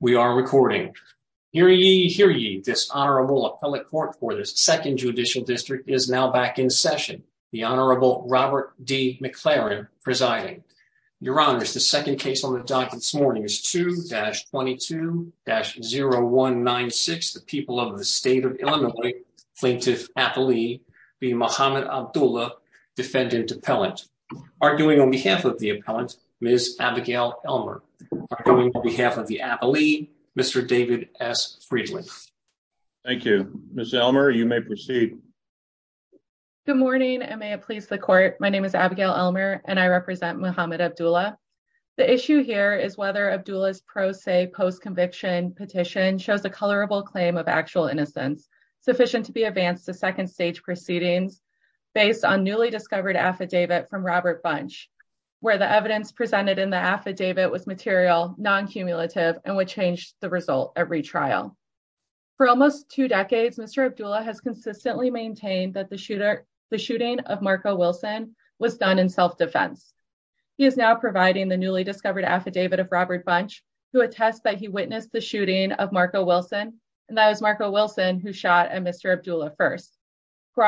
We are recording. Hear ye, hear ye. This Honorable Appellate Court for the Second Judicial District is now back in session. The Honorable Robert D. McLaren presiding. Your Honors, the second case on the docket this morning is 2-22-0196. The people of the state of Illinois, Plaintiff Apolli v. Muhammad Abdullah, Defendant Appellant. Arguing on behalf of the Appellant, Ms. Abigail Elmer. Arguing on behalf of the Appellee, Mr. David S. Friedland. Thank you. Ms. Elmer, you may proceed. Good morning, and may it please the Court. My name is Abigail Elmer, and I represent Muhammad Abdullah. The issue here is whether Abdullah's pro se post-conviction petition shows a colorable claim of actual innocence, sufficient to be advanced to second stage proceedings based on newly discovered affidavit from Robert Bunch, where the evidence presented in the affidavit was material, non-cumulative, and would change the result at retrial. For almost two decades, Mr. Abdullah has consistently maintained that the shooting of Marco Wilson was done in self-defense. He is now providing the newly discovered affidavit of Robert Bunch, who attests that he witnessed the shooting of Marco Wilson, and that it was Marco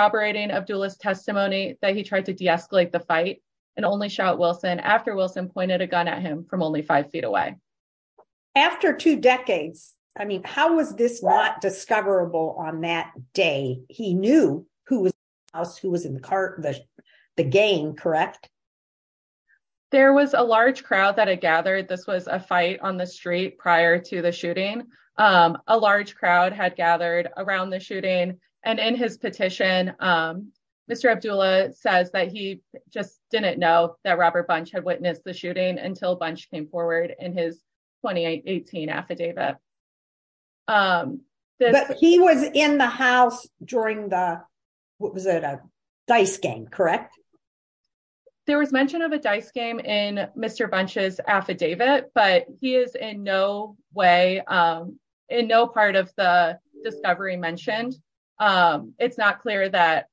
Abdullah's testimony that he tried to de-escalate the fight and only shot Wilson after Wilson pointed a gun at him from only five feet away. After two decades, I mean, how was this not discoverable on that day? He knew who was in the house, who was in the cart, the gang, correct? There was a large crowd that had gathered. This was a fight on the street prior to the shooting. A large crowd had gathered around the shooting, and in his petition, Mr. Abdullah says that he just didn't know that Robert Bunch had witnessed the shooting until Bunch came forward in his 2018 affidavit. But he was in the house during the, what was it, a dice game, correct? There was mention of a dice game in Mr. Bunch's affidavit, but he is in no way, in no part of the discovery mentioned. It's not clear that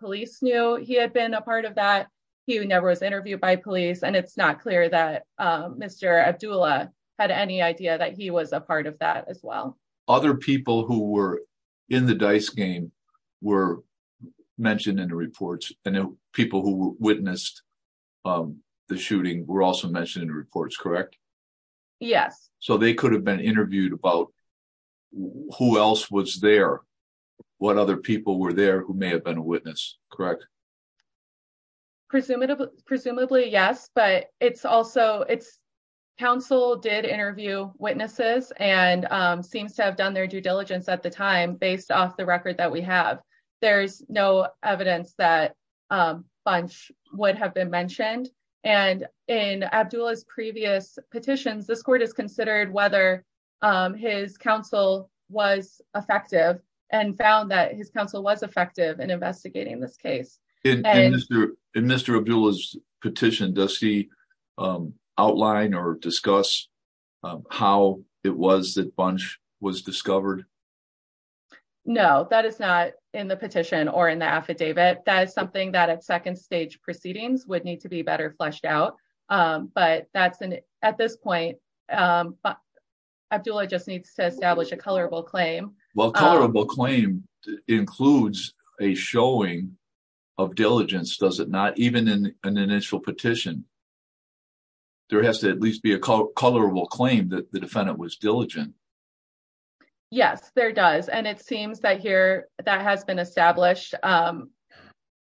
police knew he had been a part of that. He never was interviewed by police, and it's not clear that Mr. Abdullah had any idea that he was a part of that as well. Other people who were in the dice game were mentioned in the reports, and people who witnessed the shooting were also mentioned in the reports, correct? Yes. So they could have been interviewed about who else was there, what other people were there who may have been a witness, correct? Presumably, yes, but it's also, it's, counsel did interview witnesses and seems to have done their due diligence at the time based off the record that we have. There's no evidence that Bunch would have been mentioned, and in Abdullah's previous petitions, this court has considered whether his counsel was effective and found that his counsel was effective in investigating this case. In Mr. Abdullah's petition, does he outline or discuss how it was that Bunch was discovered? No, that is not in the petition or in the affidavit. That is something that at second stage proceedings would need to be better fleshed out, but that's, at this point, Abdullah just of diligence, does it not? Even in an initial petition, there has to at least be a color will claim that the defendant was diligent. Yes, there does, and it seems that here that has been established.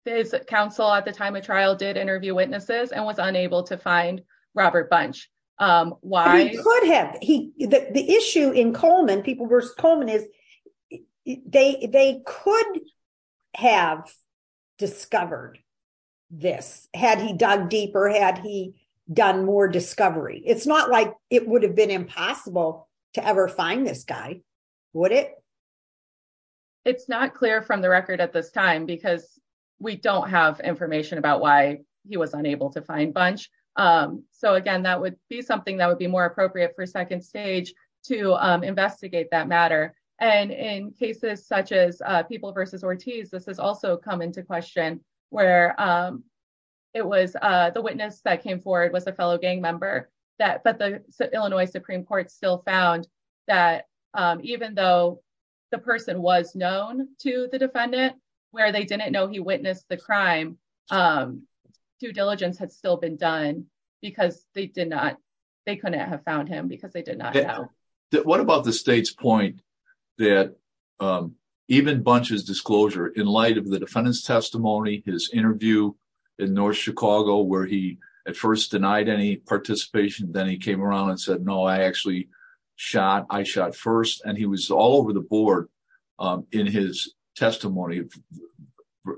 His counsel at the time of trial did interview witnesses and was unable to find Robert Bunch. Why? He could have, he, the issue in Coleman, people versus Coleman, is they could have discovered this had he dug deeper, had he done more discovery. It's not like it would have been impossible to ever find this guy, would it? It's not clear from the record at this time because we don't have information about why he was unable to find Bunch. So again, that would be something that would be more appropriate for to investigate that matter. And in cases such as people versus Ortiz, this has also come into question where it was the witness that came forward was a fellow gang member, but the Illinois Supreme Court still found that even though the person was known to the defendant, where they didn't know he witnessed the crime, due diligence had still been done because they have found him because they did not know. What about the state's point that even Bunch's disclosure in light of the defendant's testimony, his interview in North Chicago where he at first denied any participation, then he came around and said, no, I actually shot, I shot first, and he was all over the board in his testimony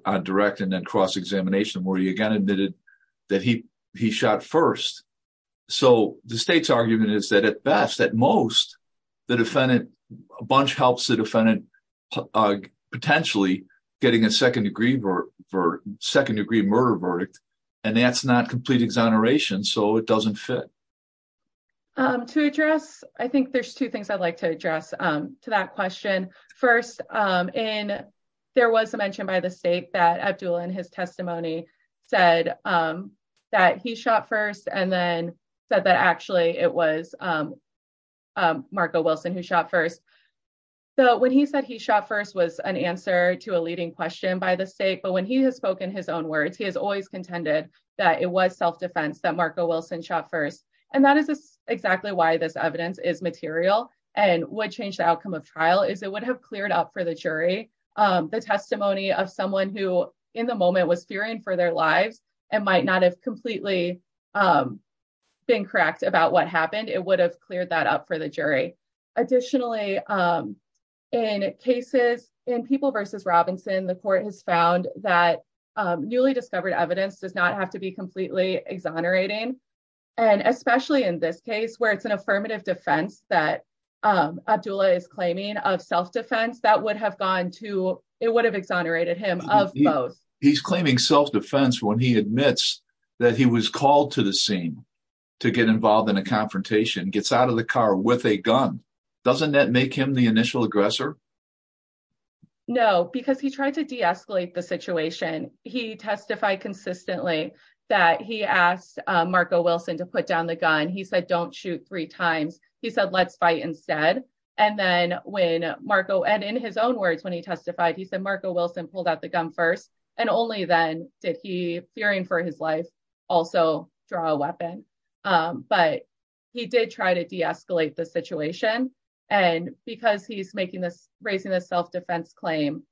on direct and then cross-examination where he again that he shot first. So the state's argument is that at best, at most, the defendant, Bunch helps the defendant potentially getting a second-degree murder verdict, and that's not complete exoneration, so it doesn't fit. To address, I think there's two things I'd like to address to that question. First, in, there was a mention by the state that Abdul in his testimony said that he shot first and then said that actually it was Marco Wilson who shot first. So when he said he shot first was an answer to a leading question by the state, but when he has spoken his own words, he has always contended that it was self-defense that Marco Wilson shot first, and that is exactly why this evidence is jury. The testimony of someone who in the moment was fearing for their lives and might not have completely been correct about what happened, it would have cleared that up for the jury. Additionally, in cases, in People v. Robinson, the court has found that newly discovered evidence does not have to be completely exonerating, and especially in this case where it's an it would have exonerated him of both. He's claiming self-defense when he admits that he was called to the scene to get involved in a confrontation, gets out of the car with a gun. Doesn't that make him the initial aggressor? No, because he tried to de-escalate the situation. He testified consistently that he asked Marco Wilson to put down the gun. He said, don't shoot three times. He said, let's fight instead, and in his own words when he testified, he said Marco Wilson pulled out the gun first, and only then did he, fearing for his life, also draw a weapon, but he did try to de-escalate the situation, and because he's raising this self-defense claim,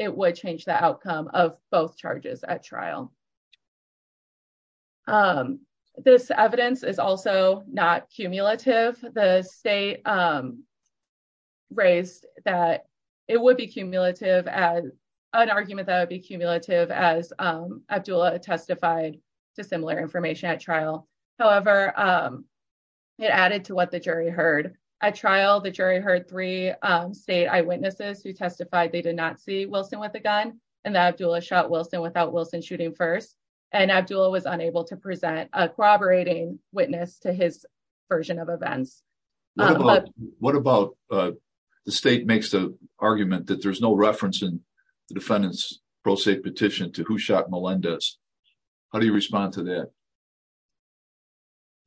it would change the outcome of both charges at trial. This evidence is also not cumulative. The state raised that it would be cumulative as an argument that would be cumulative as Abdullah testified to similar information at trial. However, it added to what the jury heard. At trial, the jury heard three state eyewitnesses who testified they did not see Wilson with a gun, and that Abdullah shot Wilson without Wilson shooting first, and Abdullah was unable to present a corroborating witness to his version of events. What about the state makes the argument that there's no reference in the defendant's pro se petition to who shot Melendez? How do you respond to that?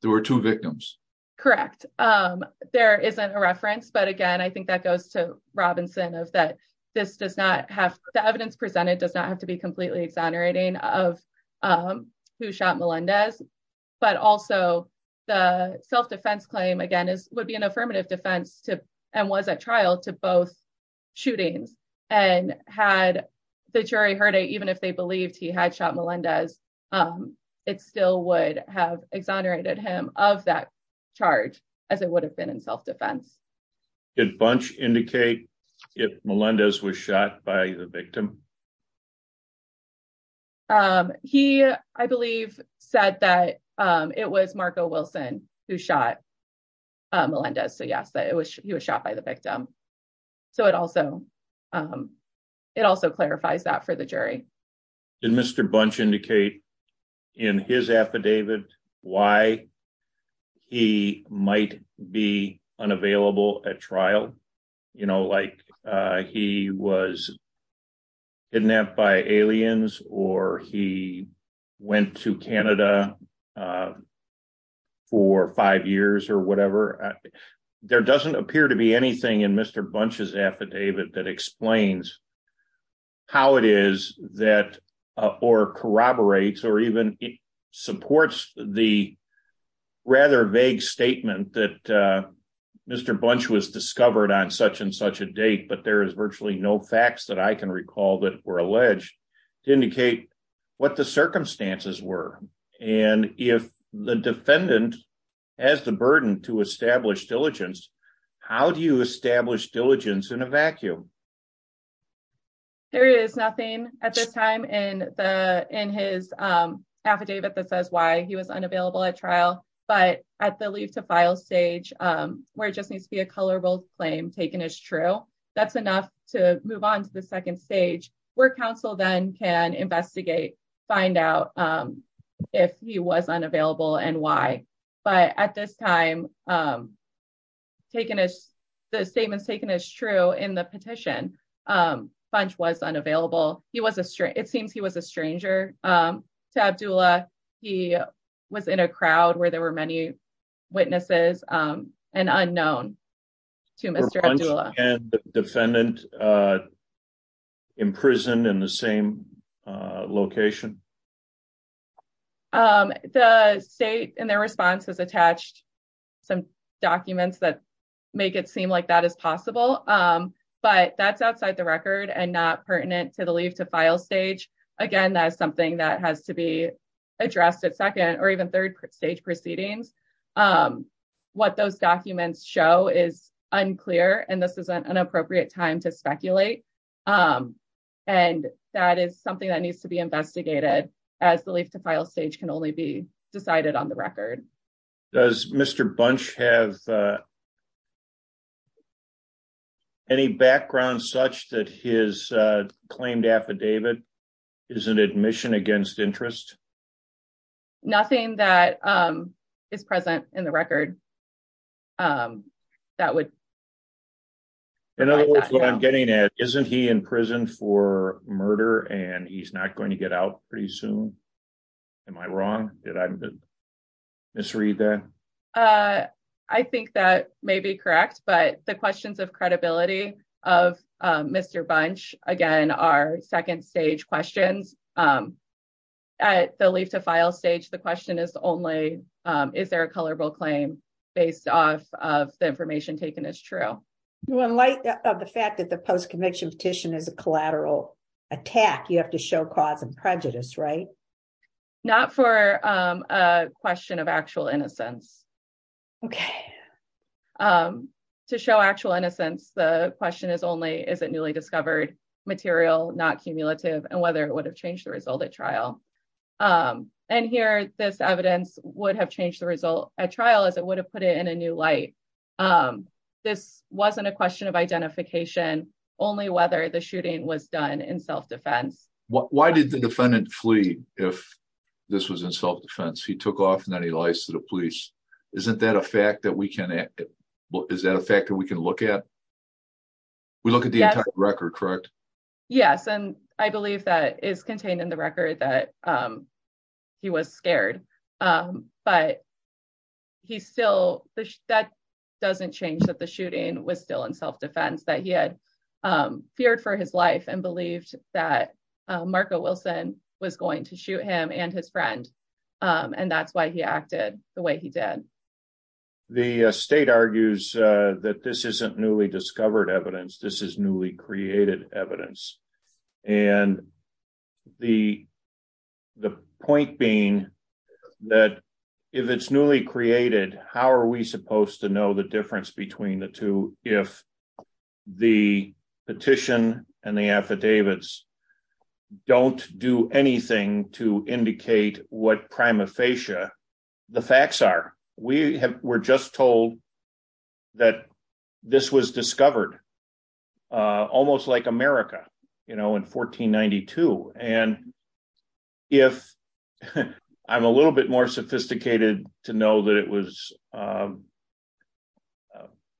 There were two victims. Correct. There isn't a reference, but again, I think that goes to Robinson of that this does not have, the evidence presented does not have to be completely exonerating of who shot Melendez, but also the self-defense claim, again, would be an affirmative defense and was at trial to both shootings, and had the jury heard it, even if they believed he had shot Melendez, it still would have exonerated him of that charge as it would have been in self-defense. Did Bunch indicate if Melendez was shot by the victim? He, I believe, said that it was Marco Wilson who shot Melendez. So yes, he was shot by the victim. So it also clarifies that for the jury. Did Mr. Bunch indicate in his affidavit why he might be unavailable at trial? You know, like he was kidnapped by aliens or he went to Canada for five years or whatever. There doesn't appear to be anything in Mr. Bunch's affidavit that explains how it is that, or corroborates or even supports the rather vague statement that Mr. Bunch was discovered on such and such a date, but there is virtually no facts that I can recall that were alleged to indicate what the circumstances were. And if the defendant has the burden to establish diligence, how do you establish diligence in a vacuum? There is nothing at this time in his affidavit that says why he was unavailable at trial, but at the leave to file stage where it just needs to be a colorable claim taken as true, that's enough to move on to the second stage where counsel then can investigate, find out if he was unavailable and why. But at this time, the statement is taken as true in the petition. Bunch was unavailable. It seems he was a stranger to Abdullah. He was in a crowd where there were many witnesses and unknown to Mr. Abdullah. Were Bunch and the defendant in prison in the same location? The state in their response has attached some documents that make it seem like that is possible, but that's outside the record and not pertinent to the leave to file stage. Again, that is something that has to be addressed at second or even third stage proceedings. What those documents show is unclear and this is an inappropriate time to speculate. And that is something that needs to be investigated as the leave to file stage can only be decided on the record. Does Mr. Bunch have any background such that his claimed affidavit is an admission against interest? Nothing that is present in the record. In other words, what I'm getting at, isn't he in prison for murder and he's not going to get out pretty soon? Am I wrong? Did I misread that? I think that may be correct, but the questions of leave to file stage, the question is only, is there a colorable claim based off of the information taken as true? In light of the fact that the post-conviction petition is a collateral attack, you have to show cause and prejudice, right? Not for a question of actual innocence. To show actual innocence, the question is only, is it newly discovered material, not cumulative, and whether it would have changed the result at trial. And here, this evidence would have changed the result at trial as it would have put it in a new light. This wasn't a question of identification, only whether the shooting was done in self-defense. Why did the defendant flee if this was in self-defense? He took off and then he lies to the police. Is that a fact that we can look at? We look at the entire record, correct? Yes, and I believe that is contained in the record that he was scared, but that doesn't change that the shooting was still in self-defense, that he had feared for his life and believed that Marco Wilson was going to shoot him and his friend and that's why he acted the way he did. The state argues that this isn't newly discovered evidence, this is newly created evidence. And the point being that if it's newly created, how are we supposed to know the difference between the two if the petition and the affidavits don't do anything to indicate what prima facie the facts are? We're just told that this was discovered almost like America in 1492. And if I'm a little bit more sophisticated to know that it was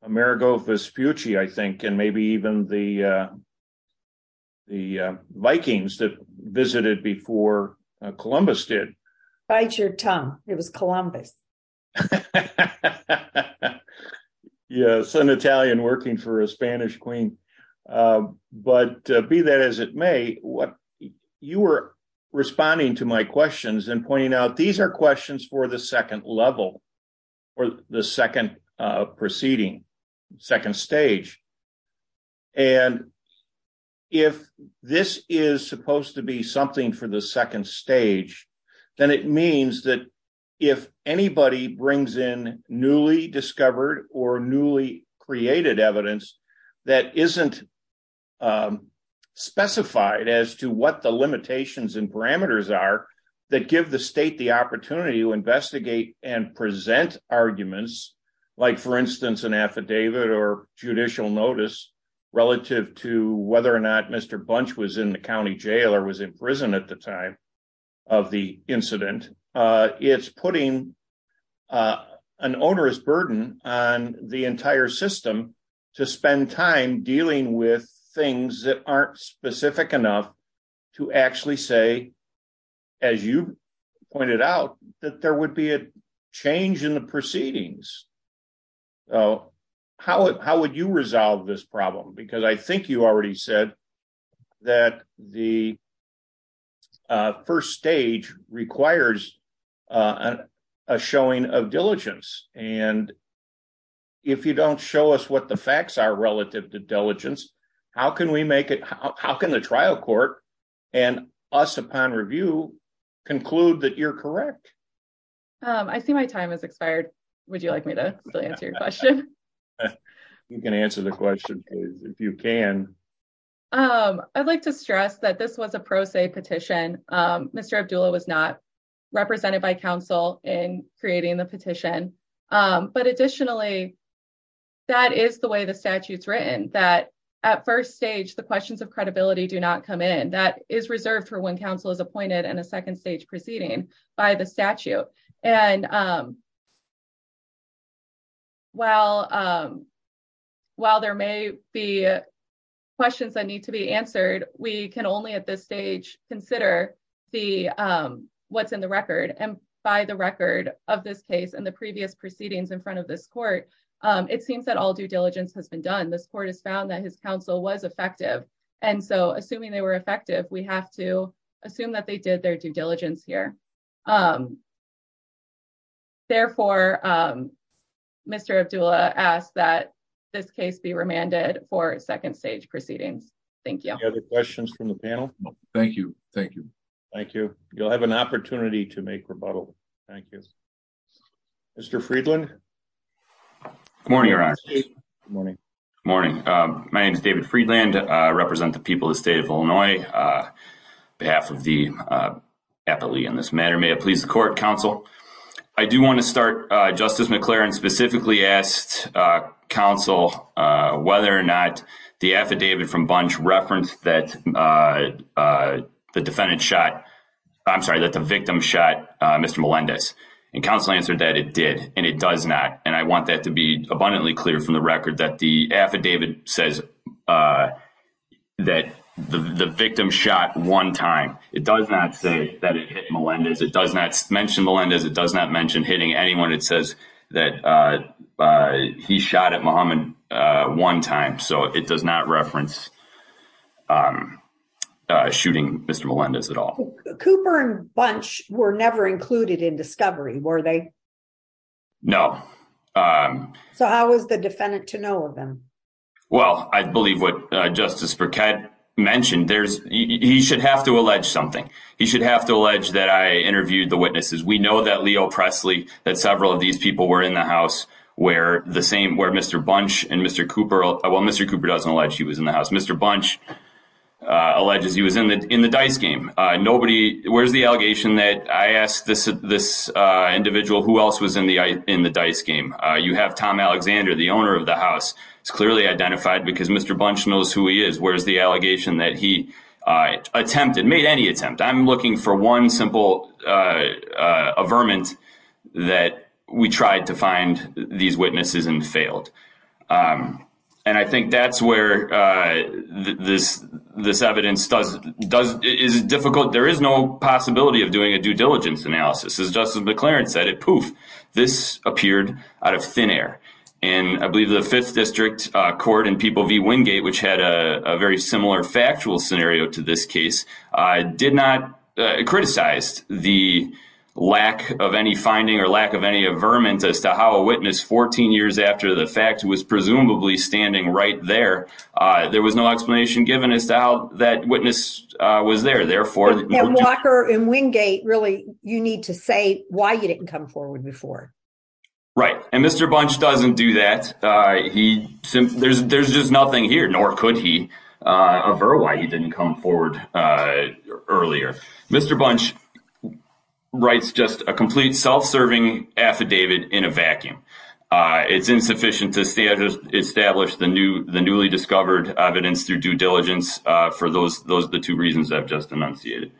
Marigold Vespucci, I think, and maybe even the Vikings that visited before Columbus did. Bite your tongue, it was Columbus. Yes, an Italian working for a Spanish queen. But be that as it may, you were responding to my questions and pointing out these are questions for the second level or the second proceeding. Second stage. And if this is supposed to be something for the second stage, then it means that if anybody brings in newly discovered or newly created evidence that isn't specified as to what the limitations and parameters are that give the state the judicial notice relative to whether or not Mr. Bunch was in the county jail or was in prison at the time of the incident, it's putting an onerous burden on the entire system to spend time dealing with things that aren't specific enough to actually say, as you pointed out, that there would be a change in the proceedings. So how would you resolve this problem? Because I think you already said that the first stage requires a showing of diligence. And if you don't show us what the facts are relative to diligence, how can we make it, how can the trial court and us upon review conclude that you're correct? I see my time has expired. Would you like me to answer your question? You can answer the question if you can. I'd like to stress that this was a pro se petition. Mr. Abdullah was not represented by counsel in creating the petition. But additionally, that is the way the statute's written that at first stage, the questions of that is reserved for when counsel is appointed and a second stage proceeding by the statute. And while there may be questions that need to be answered, we can only at this stage consider what's in the record. And by the record of this case and the previous proceedings in front of this court, it seems that all due diligence has been done. This court has found that his counsel was effective. And so assuming they were effective, we have to assume that they did their due diligence here. Therefore, Mr. Abdullah asked that this case be remanded for second stage proceedings. Thank you. Any other questions from the panel? No. Thank you. Thank you. Thank you. You'll have an opportunity to make rebuttal. Thank you. Mr. Friedland? Good morning, Your Honor. Good morning. Good morning. My name is David Friedland. I represent the people of the state of Illinois. On behalf of the appellee in this matter, may it please the court, counsel. I do want to start, Justice McClaren specifically asked counsel whether or not the affidavit from Bunch referenced that the defendant shot, I'm sorry, that the victim shot Mr. Melendez. And I want that to be abundantly clear from the record that the affidavit says that the victim shot one time. It does not say that it hit Melendez. It does not mention Melendez. It does not mention hitting anyone. It says that he shot at Muhammad one time. So it does not reference shooting Mr. Melendez at all. Cooper and Bunch were never included in discovery, were they? No. So how was the defendant to know of them? Well, I believe what Justice Burkett mentioned, there's, he should have to allege something. He should have to allege that I interviewed the witnesses. We know that Leo Presley, that several of these people were in the house where the same, where Mr. Bunch and Mr. Cooper, well, Mr. Cooper doesn't allege he was in the house. Mr. Bunch alleges he was in the dice game. Nobody, where's the allegation that I asked this individual who else was in the dice game? You have Tom Alexander, the owner of the house. It's clearly identified because Mr. Bunch knows who he is. Where's the allegation that he attempted, made any attempt? I'm looking for one simple averment that we tried to find these witnesses and failed. And I think that's where this evidence does, is difficult. There is no possibility of doing a due diligence analysis. As Justice McLaren said, it poof, this appeared out of thin air. And I believe the fifth district court and people v Wingate, which had a very similar factual scenario to this case, did not criticize the lack of any finding or lack of any averment as to how a witness 14 years after the fact was there. And Walker and Wingate, really, you need to say why you didn't come forward before. Right. And Mr. Bunch doesn't do that. There's just nothing here, nor could he, aver why he didn't come forward earlier. Mr. Bunch writes just a complete self-serving affidavit in a vacuum. It's insufficient to establish the newly discovered evidence through due diligence. For those, those are the two reasons I've just enunciated.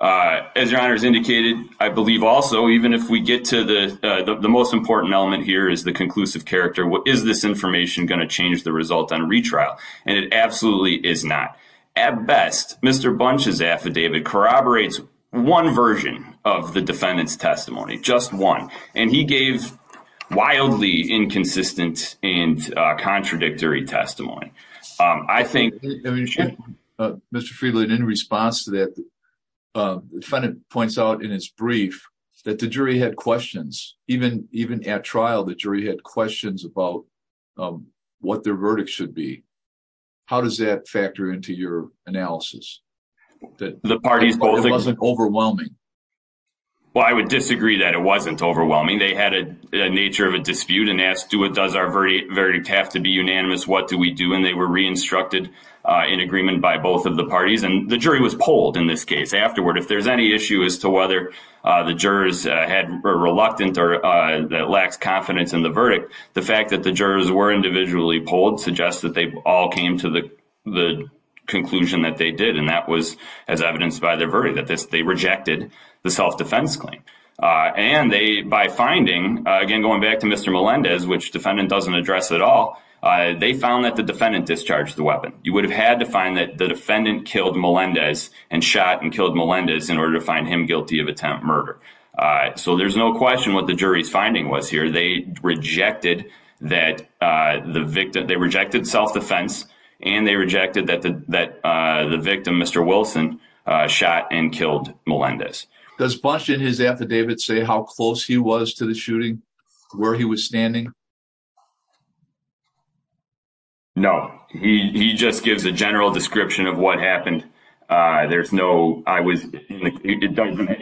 As your honor has indicated, I believe also, even if we get to the most important element here is the conclusive character. Is this information going to change the result on retrial? And it absolutely is not. At best, Mr. Bunch's affidavit corroborates one version of the defendant's testimony, just one. And he gave wildly inconsistent and contradictory testimony. I think... Mr. Friedland, in response to that, the defendant points out in his brief that the jury had questions. Even at trial, the jury had questions about what their verdict should be. How does that factor into your analysis? The parties both... It wasn't overwhelming. Well, I would disagree that it wasn't overwhelming. They had a nature of a dispute and asked, does our verdict have to be unanimous? What do we do? And they were re-instructed in agreement by both of the parties. And the jury was polled in this case afterward. If there's any issue as to whether the jurors were reluctant or that lacks confidence in the verdict, the fact that the jurors were individually polled suggests that they all came to the conclusion that they did. And that was as evidenced by their verdict, that they rejected the self-defense claim. And they, by finding... Again, going back to Mr. Melendez, which defendant doesn't address at all, they found that the defendant discharged the weapon. You would have had to find that the defendant killed Melendez and shot and killed Melendez in order to find him guilty of attempt murder. So there's no question what the jury's finding was here. They rejected that the victim... They rejected self-defense and they rejected that the victim, Mr. Wilson, shot and killed Melendez. Does Busch in his affidavit say how close he was to the shooting, where he was standing? No. He just gives a general description of what happened. There's no... It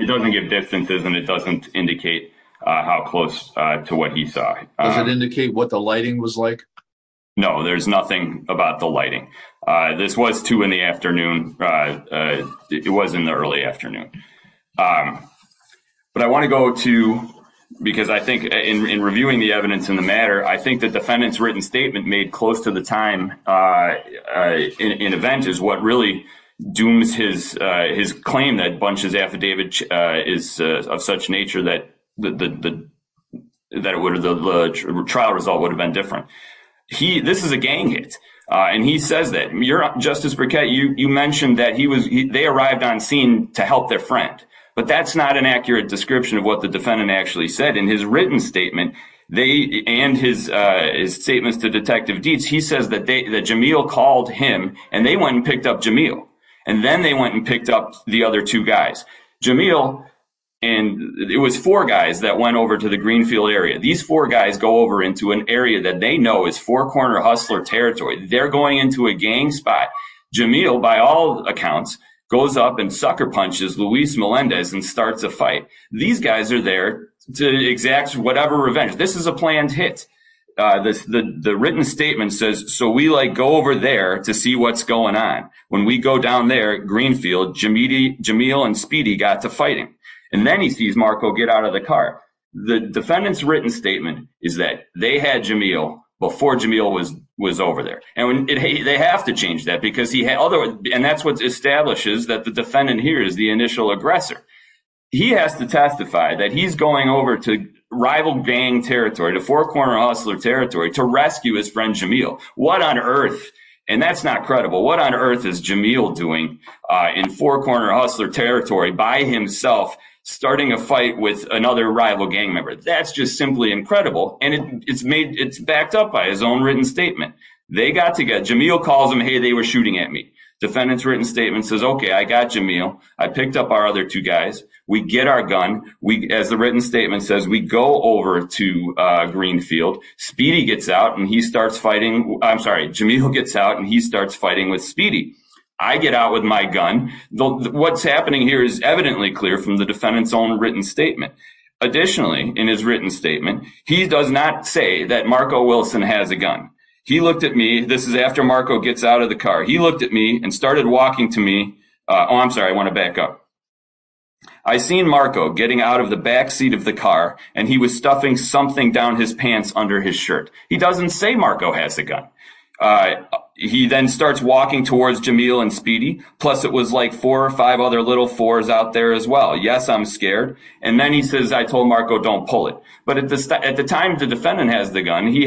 doesn't give distances and it doesn't indicate how close to what he saw. Does it indicate what the lighting was like? No, there's nothing about the lighting. This was two in the afternoon. It was in the early afternoon. But I want to go to... Because I think in reviewing the evidence in the matter, I think the defendant's written statement made close to the time in event is what really dooms his claim that Busch's affidavit is of such nature that the trial result would have been different. This is a gang hit and he says that. Justice Burkett, you mentioned that they arrived on scene to help their friend. But that's not an accurate description of what the defendant actually said in his written statement and his statements to Detective Dietz. He says that Jamil called him and they went and picked up Jamil. And then they went and picked up the other two guys. Jamil and... It was four guys that went over to the Greenfield area. These four guys go over into an area that they know is four-corner hustler territory. They're going into a gang spot. Jamil, by all accounts, goes up and sucker punches Luis Melendez and starts a fight. These guys are there to exact whatever revenge. This is a planned hit. The written statement says, so we like go over there to see what's going on. When we go down there at Greenfield, Jamil and Speedy got to fighting. And then he sees Marco get out of the car. The defendant's written statement is that they had Jamil before Jamil was over there. And they have to change that because he had other... And that's what establishes that the defendant here is the initial aggressor. He has to testify that he's going over to rival gang territory, to four-corner hustler territory, to rescue his friend Jamil. What on earth? And that's not credible. What on earth is Jamil doing in four-corner hustler territory by himself, starting a fight with another rival gang member? That's just simply incredible. And it's backed up by his own written statement. They got to get... Jamil calls them, hey, they were shooting at me. Defendant's written statement says, okay, I got Jamil. I picked up our other two guys. We get our gun. As the written statement says, we go over to Greenfield. Speedy gets out and he starts fighting... I'm sorry, Jamil gets out and he starts fighting with Speedy. I get out with my gun. What's happening here is evidently from the defendant's own written statement. Additionally, in his written statement, he does not say that Marco Wilson has a gun. He looked at me. This is after Marco gets out of the car. He looked at me and started walking to me. Oh, I'm sorry. I want to back up. I seen Marco getting out of the backseat of the car and he was stuffing something down his pants under his shirt. He doesn't say Marco has a gun. He then starts walking towards Jamil and Speedy. Plus it was like four or five other little fours out there as well. Yes, I'm scared. And then he says, I told Marco, don't pull it. But at the time the defendant has the gun, he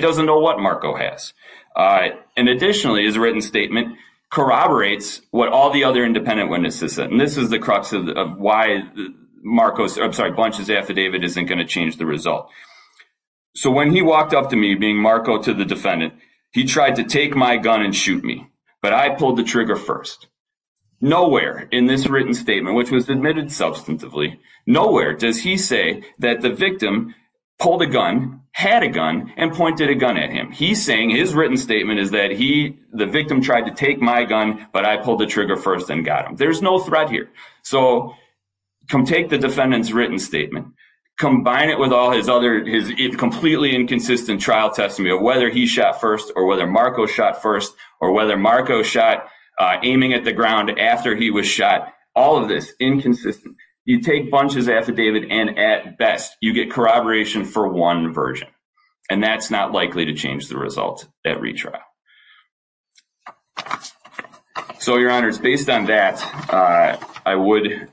doesn't know what Marco has. And additionally, his written statement corroborates what all the other independent witnesses said. And this is the crux of why Marco's... I'm sorry, Bunch's affidavit isn't going to change the result. So when he walked up to me, being Marco to the Nowhere in this written statement, which was admitted substantively, nowhere does he say that the victim pulled a gun, had a gun and pointed a gun at him. He's saying his written statement is that he, the victim tried to take my gun, but I pulled the trigger first and got him. There's no threat here. So come take the defendant's written statement, combine it with all his other, his completely inconsistent trial testimony of whether he shot first or whether Marco shot, aiming at the ground after he was shot, all of this inconsistent. You take Bunch's affidavit and at best, you get corroboration for one version. And that's not likely to change the result at retrial. So your honors, based on that, I would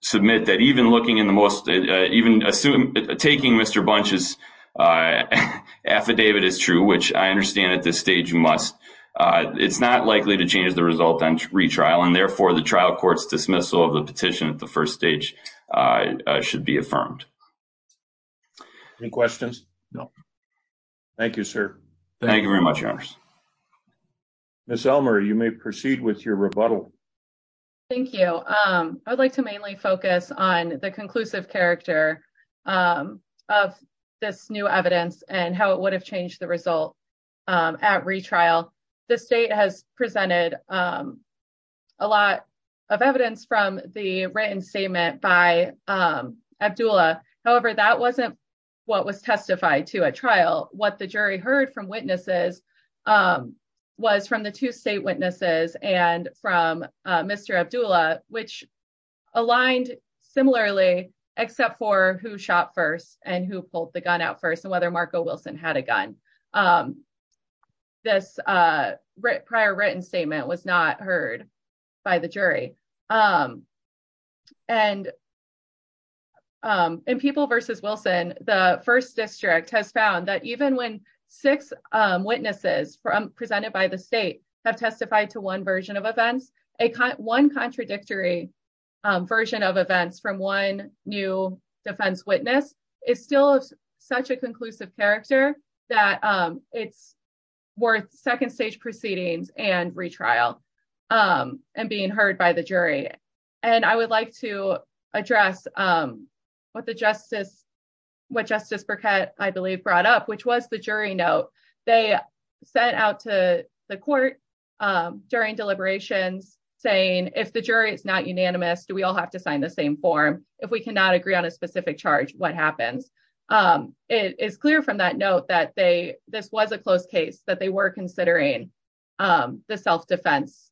submit that even looking in the most, even assume taking Mr. Bunch's affidavit is true, which I understand at this stage must. It's not likely to change the result on retrial and therefore the trial court's dismissal of the petition at the first stage should be affirmed. Any questions? No. Thank you, sir. Thank you very much, your honors. Ms. Elmer, you may proceed with your rebuttal. Thank you. I'd like to mainly focus on the conclusive character of this new evidence and how it would have changed the result at retrial. The state has presented a lot of evidence from the written statement by Abdullah. However, that wasn't what was testified to at trial. What the jury heard from witnesses was from the two state witnesses and from Mr. Abdullah, which had a gun. This prior written statement was not heard by the jury. And in People v. Wilson, the first district has found that even when six witnesses presented by the state have testified to one version of events, one contradictory version of events from one new defense witness is still such a conclusive character that it's worth second stage proceedings and retrial and being heard by the jury. And I would like to address what Justice Burkett, I believe, brought up, which was the jury note they sent out to the court during deliberations saying, if the jury is not unanimous, do we all have to sign the same form? If we cannot agree on a It is clear from that note that this was a close case, that they were considering the self-defense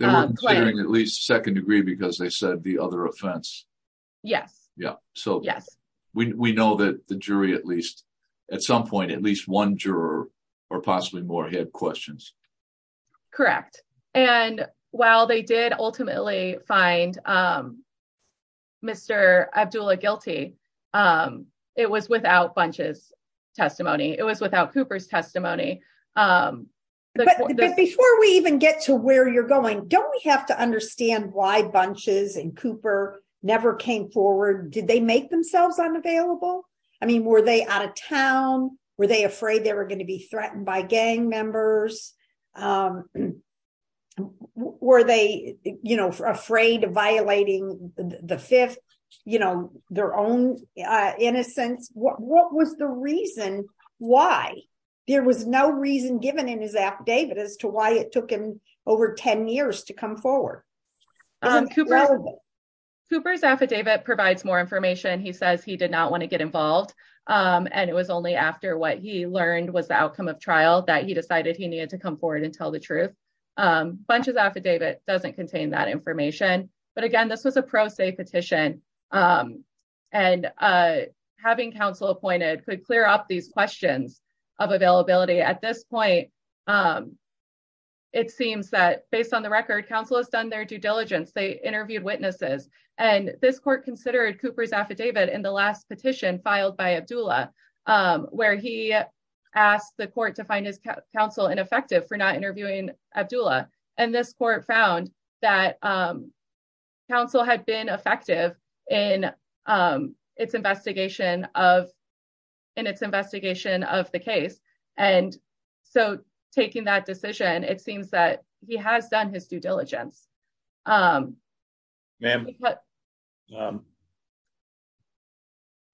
claim. They were considering at least second degree because they said the other offense. Yes. Yeah. So we know that the jury, at least at some point, at least one juror or possibly more had questions. Correct. And while they did ultimately find Mr. Abdullah guilty, it was without Bunch's testimony. It was without Cooper's testimony. Before we even get to where you're going, don't we have to understand why Bunch's and Cooper never came forward? Did they make themselves unavailable? I mean, were they out of town? Were they afraid they were going to be threatened by gang members? Were they afraid of violating the fifth, their own innocence? What was the reason why there was no reason given in his affidavit as to why it took him over 10 years to come forward? Cooper's affidavit provides more information. He says he did not want to get involved. And it was only after what he learned was the outcome of trial that he decided he needed to come forward and tell the truth. Bunch's affidavit doesn't contain that information. But again, this was a pro se petition. And having counsel appointed could clear up these questions of availability at this point. It seems that based on the record, counsel has done their due diligence, they interviewed witnesses. And this court considered Cooper's affidavit in the last petition filed by Abdullah, where he asked the court to find his counsel ineffective for not interviewing Abdullah. And this court found that counsel had been effective in its investigation of in its investigation of the case. And so taking that decision, it seems that he has done his due diligence.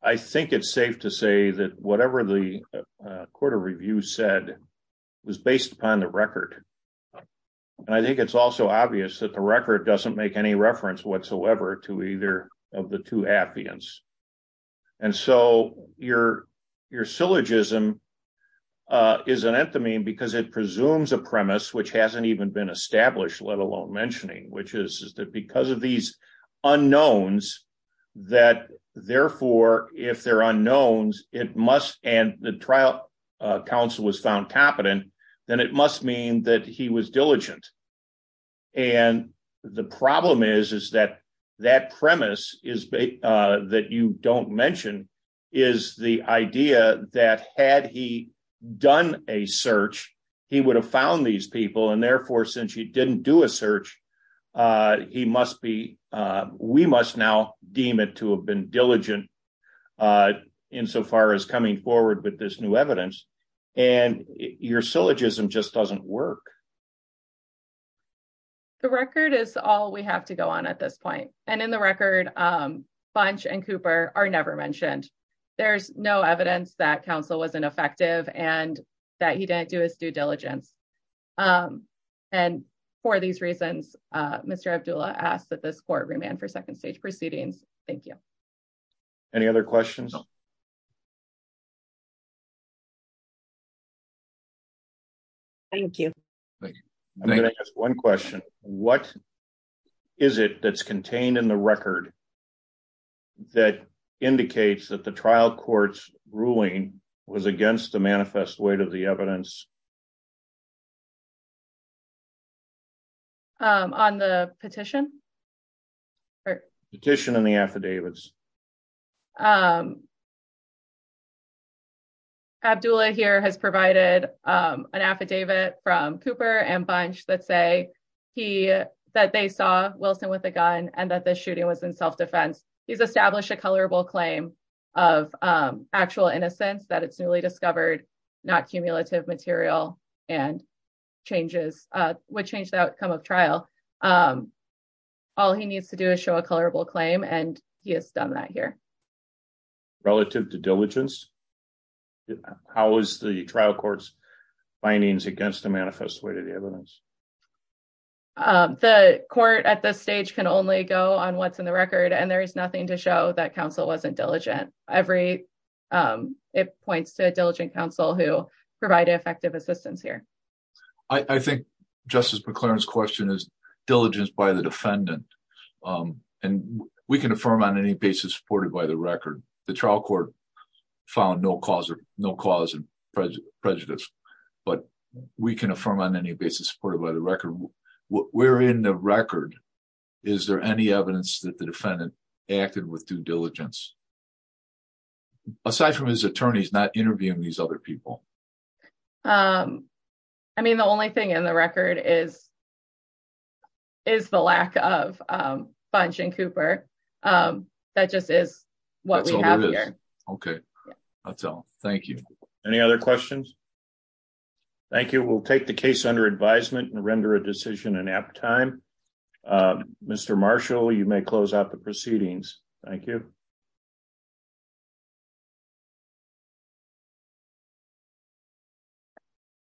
I think it's safe to say that whatever the Court of Review said, was based upon the record. And I think it's also obvious that the record doesn't make any reference whatsoever to either of the two affidavits. And so your, your syllogism is an enthemy because it presumes a mentioning, which is that because of these unknowns, that therefore, if they're unknowns, it must end the trial, counsel was found competent, then it must mean that he was diligent. And the problem is, is that that premise is that you don't mention is the idea that had he done a search, he would have found these people. And therefore, since you didn't do a search, he must be, we must now deem it to have been diligent. In so far as coming forward with this new evidence, and your syllogism just doesn't work. The record is all we have to go on at this point. And in the record, Bunch and Cooper are never mentioned. There's no evidence that counsel wasn't effective and that he didn't do his due diligence. And for these reasons, Mr. Abdullah asked that this court remand for second stage proceedings. Thank you. Any other questions? Thank you. I'm going to ask one question. What is it that's contained in the record that indicates that the trial courts ruling was against the manifest weight of the evidence? On the petition? Petition and the affidavits. Abdullah here has provided an affidavit from Cooper and Bunch that say, he, that they saw Wilson with a gun and that the shooting was in self-defense. He's established a colorable claim of actual innocence that it's newly discovered, not cumulative material and changes, which the outcome of trial. All he needs to do is show a colorable claim and he has done that here. Relative to diligence, how is the trial courts findings against the manifest way to the evidence? The court at this stage can only go on what's in the record and there is nothing to show that counsel wasn't diligent. Every, it points to a diligent counsel who provided effective assistance here. I think Justice McClaren's question is diligence by the defendant. We can affirm on any basis supported by the record. The trial court found no cause of prejudice, but we can affirm on any basis supported by the record. We're in the record. Is there any evidence that the defendant acted with due diligence, aside from his attorneys not interviewing these other people? I mean, the only thing in the record is, is the lack of Bunch and Cooper. That just is what we have here. Okay. That's all. Thank you. Any other questions? Thank you. We'll take the case under advisement and render a decision in app time. Mr. Marshall, you may close out the proceedings. Thank you.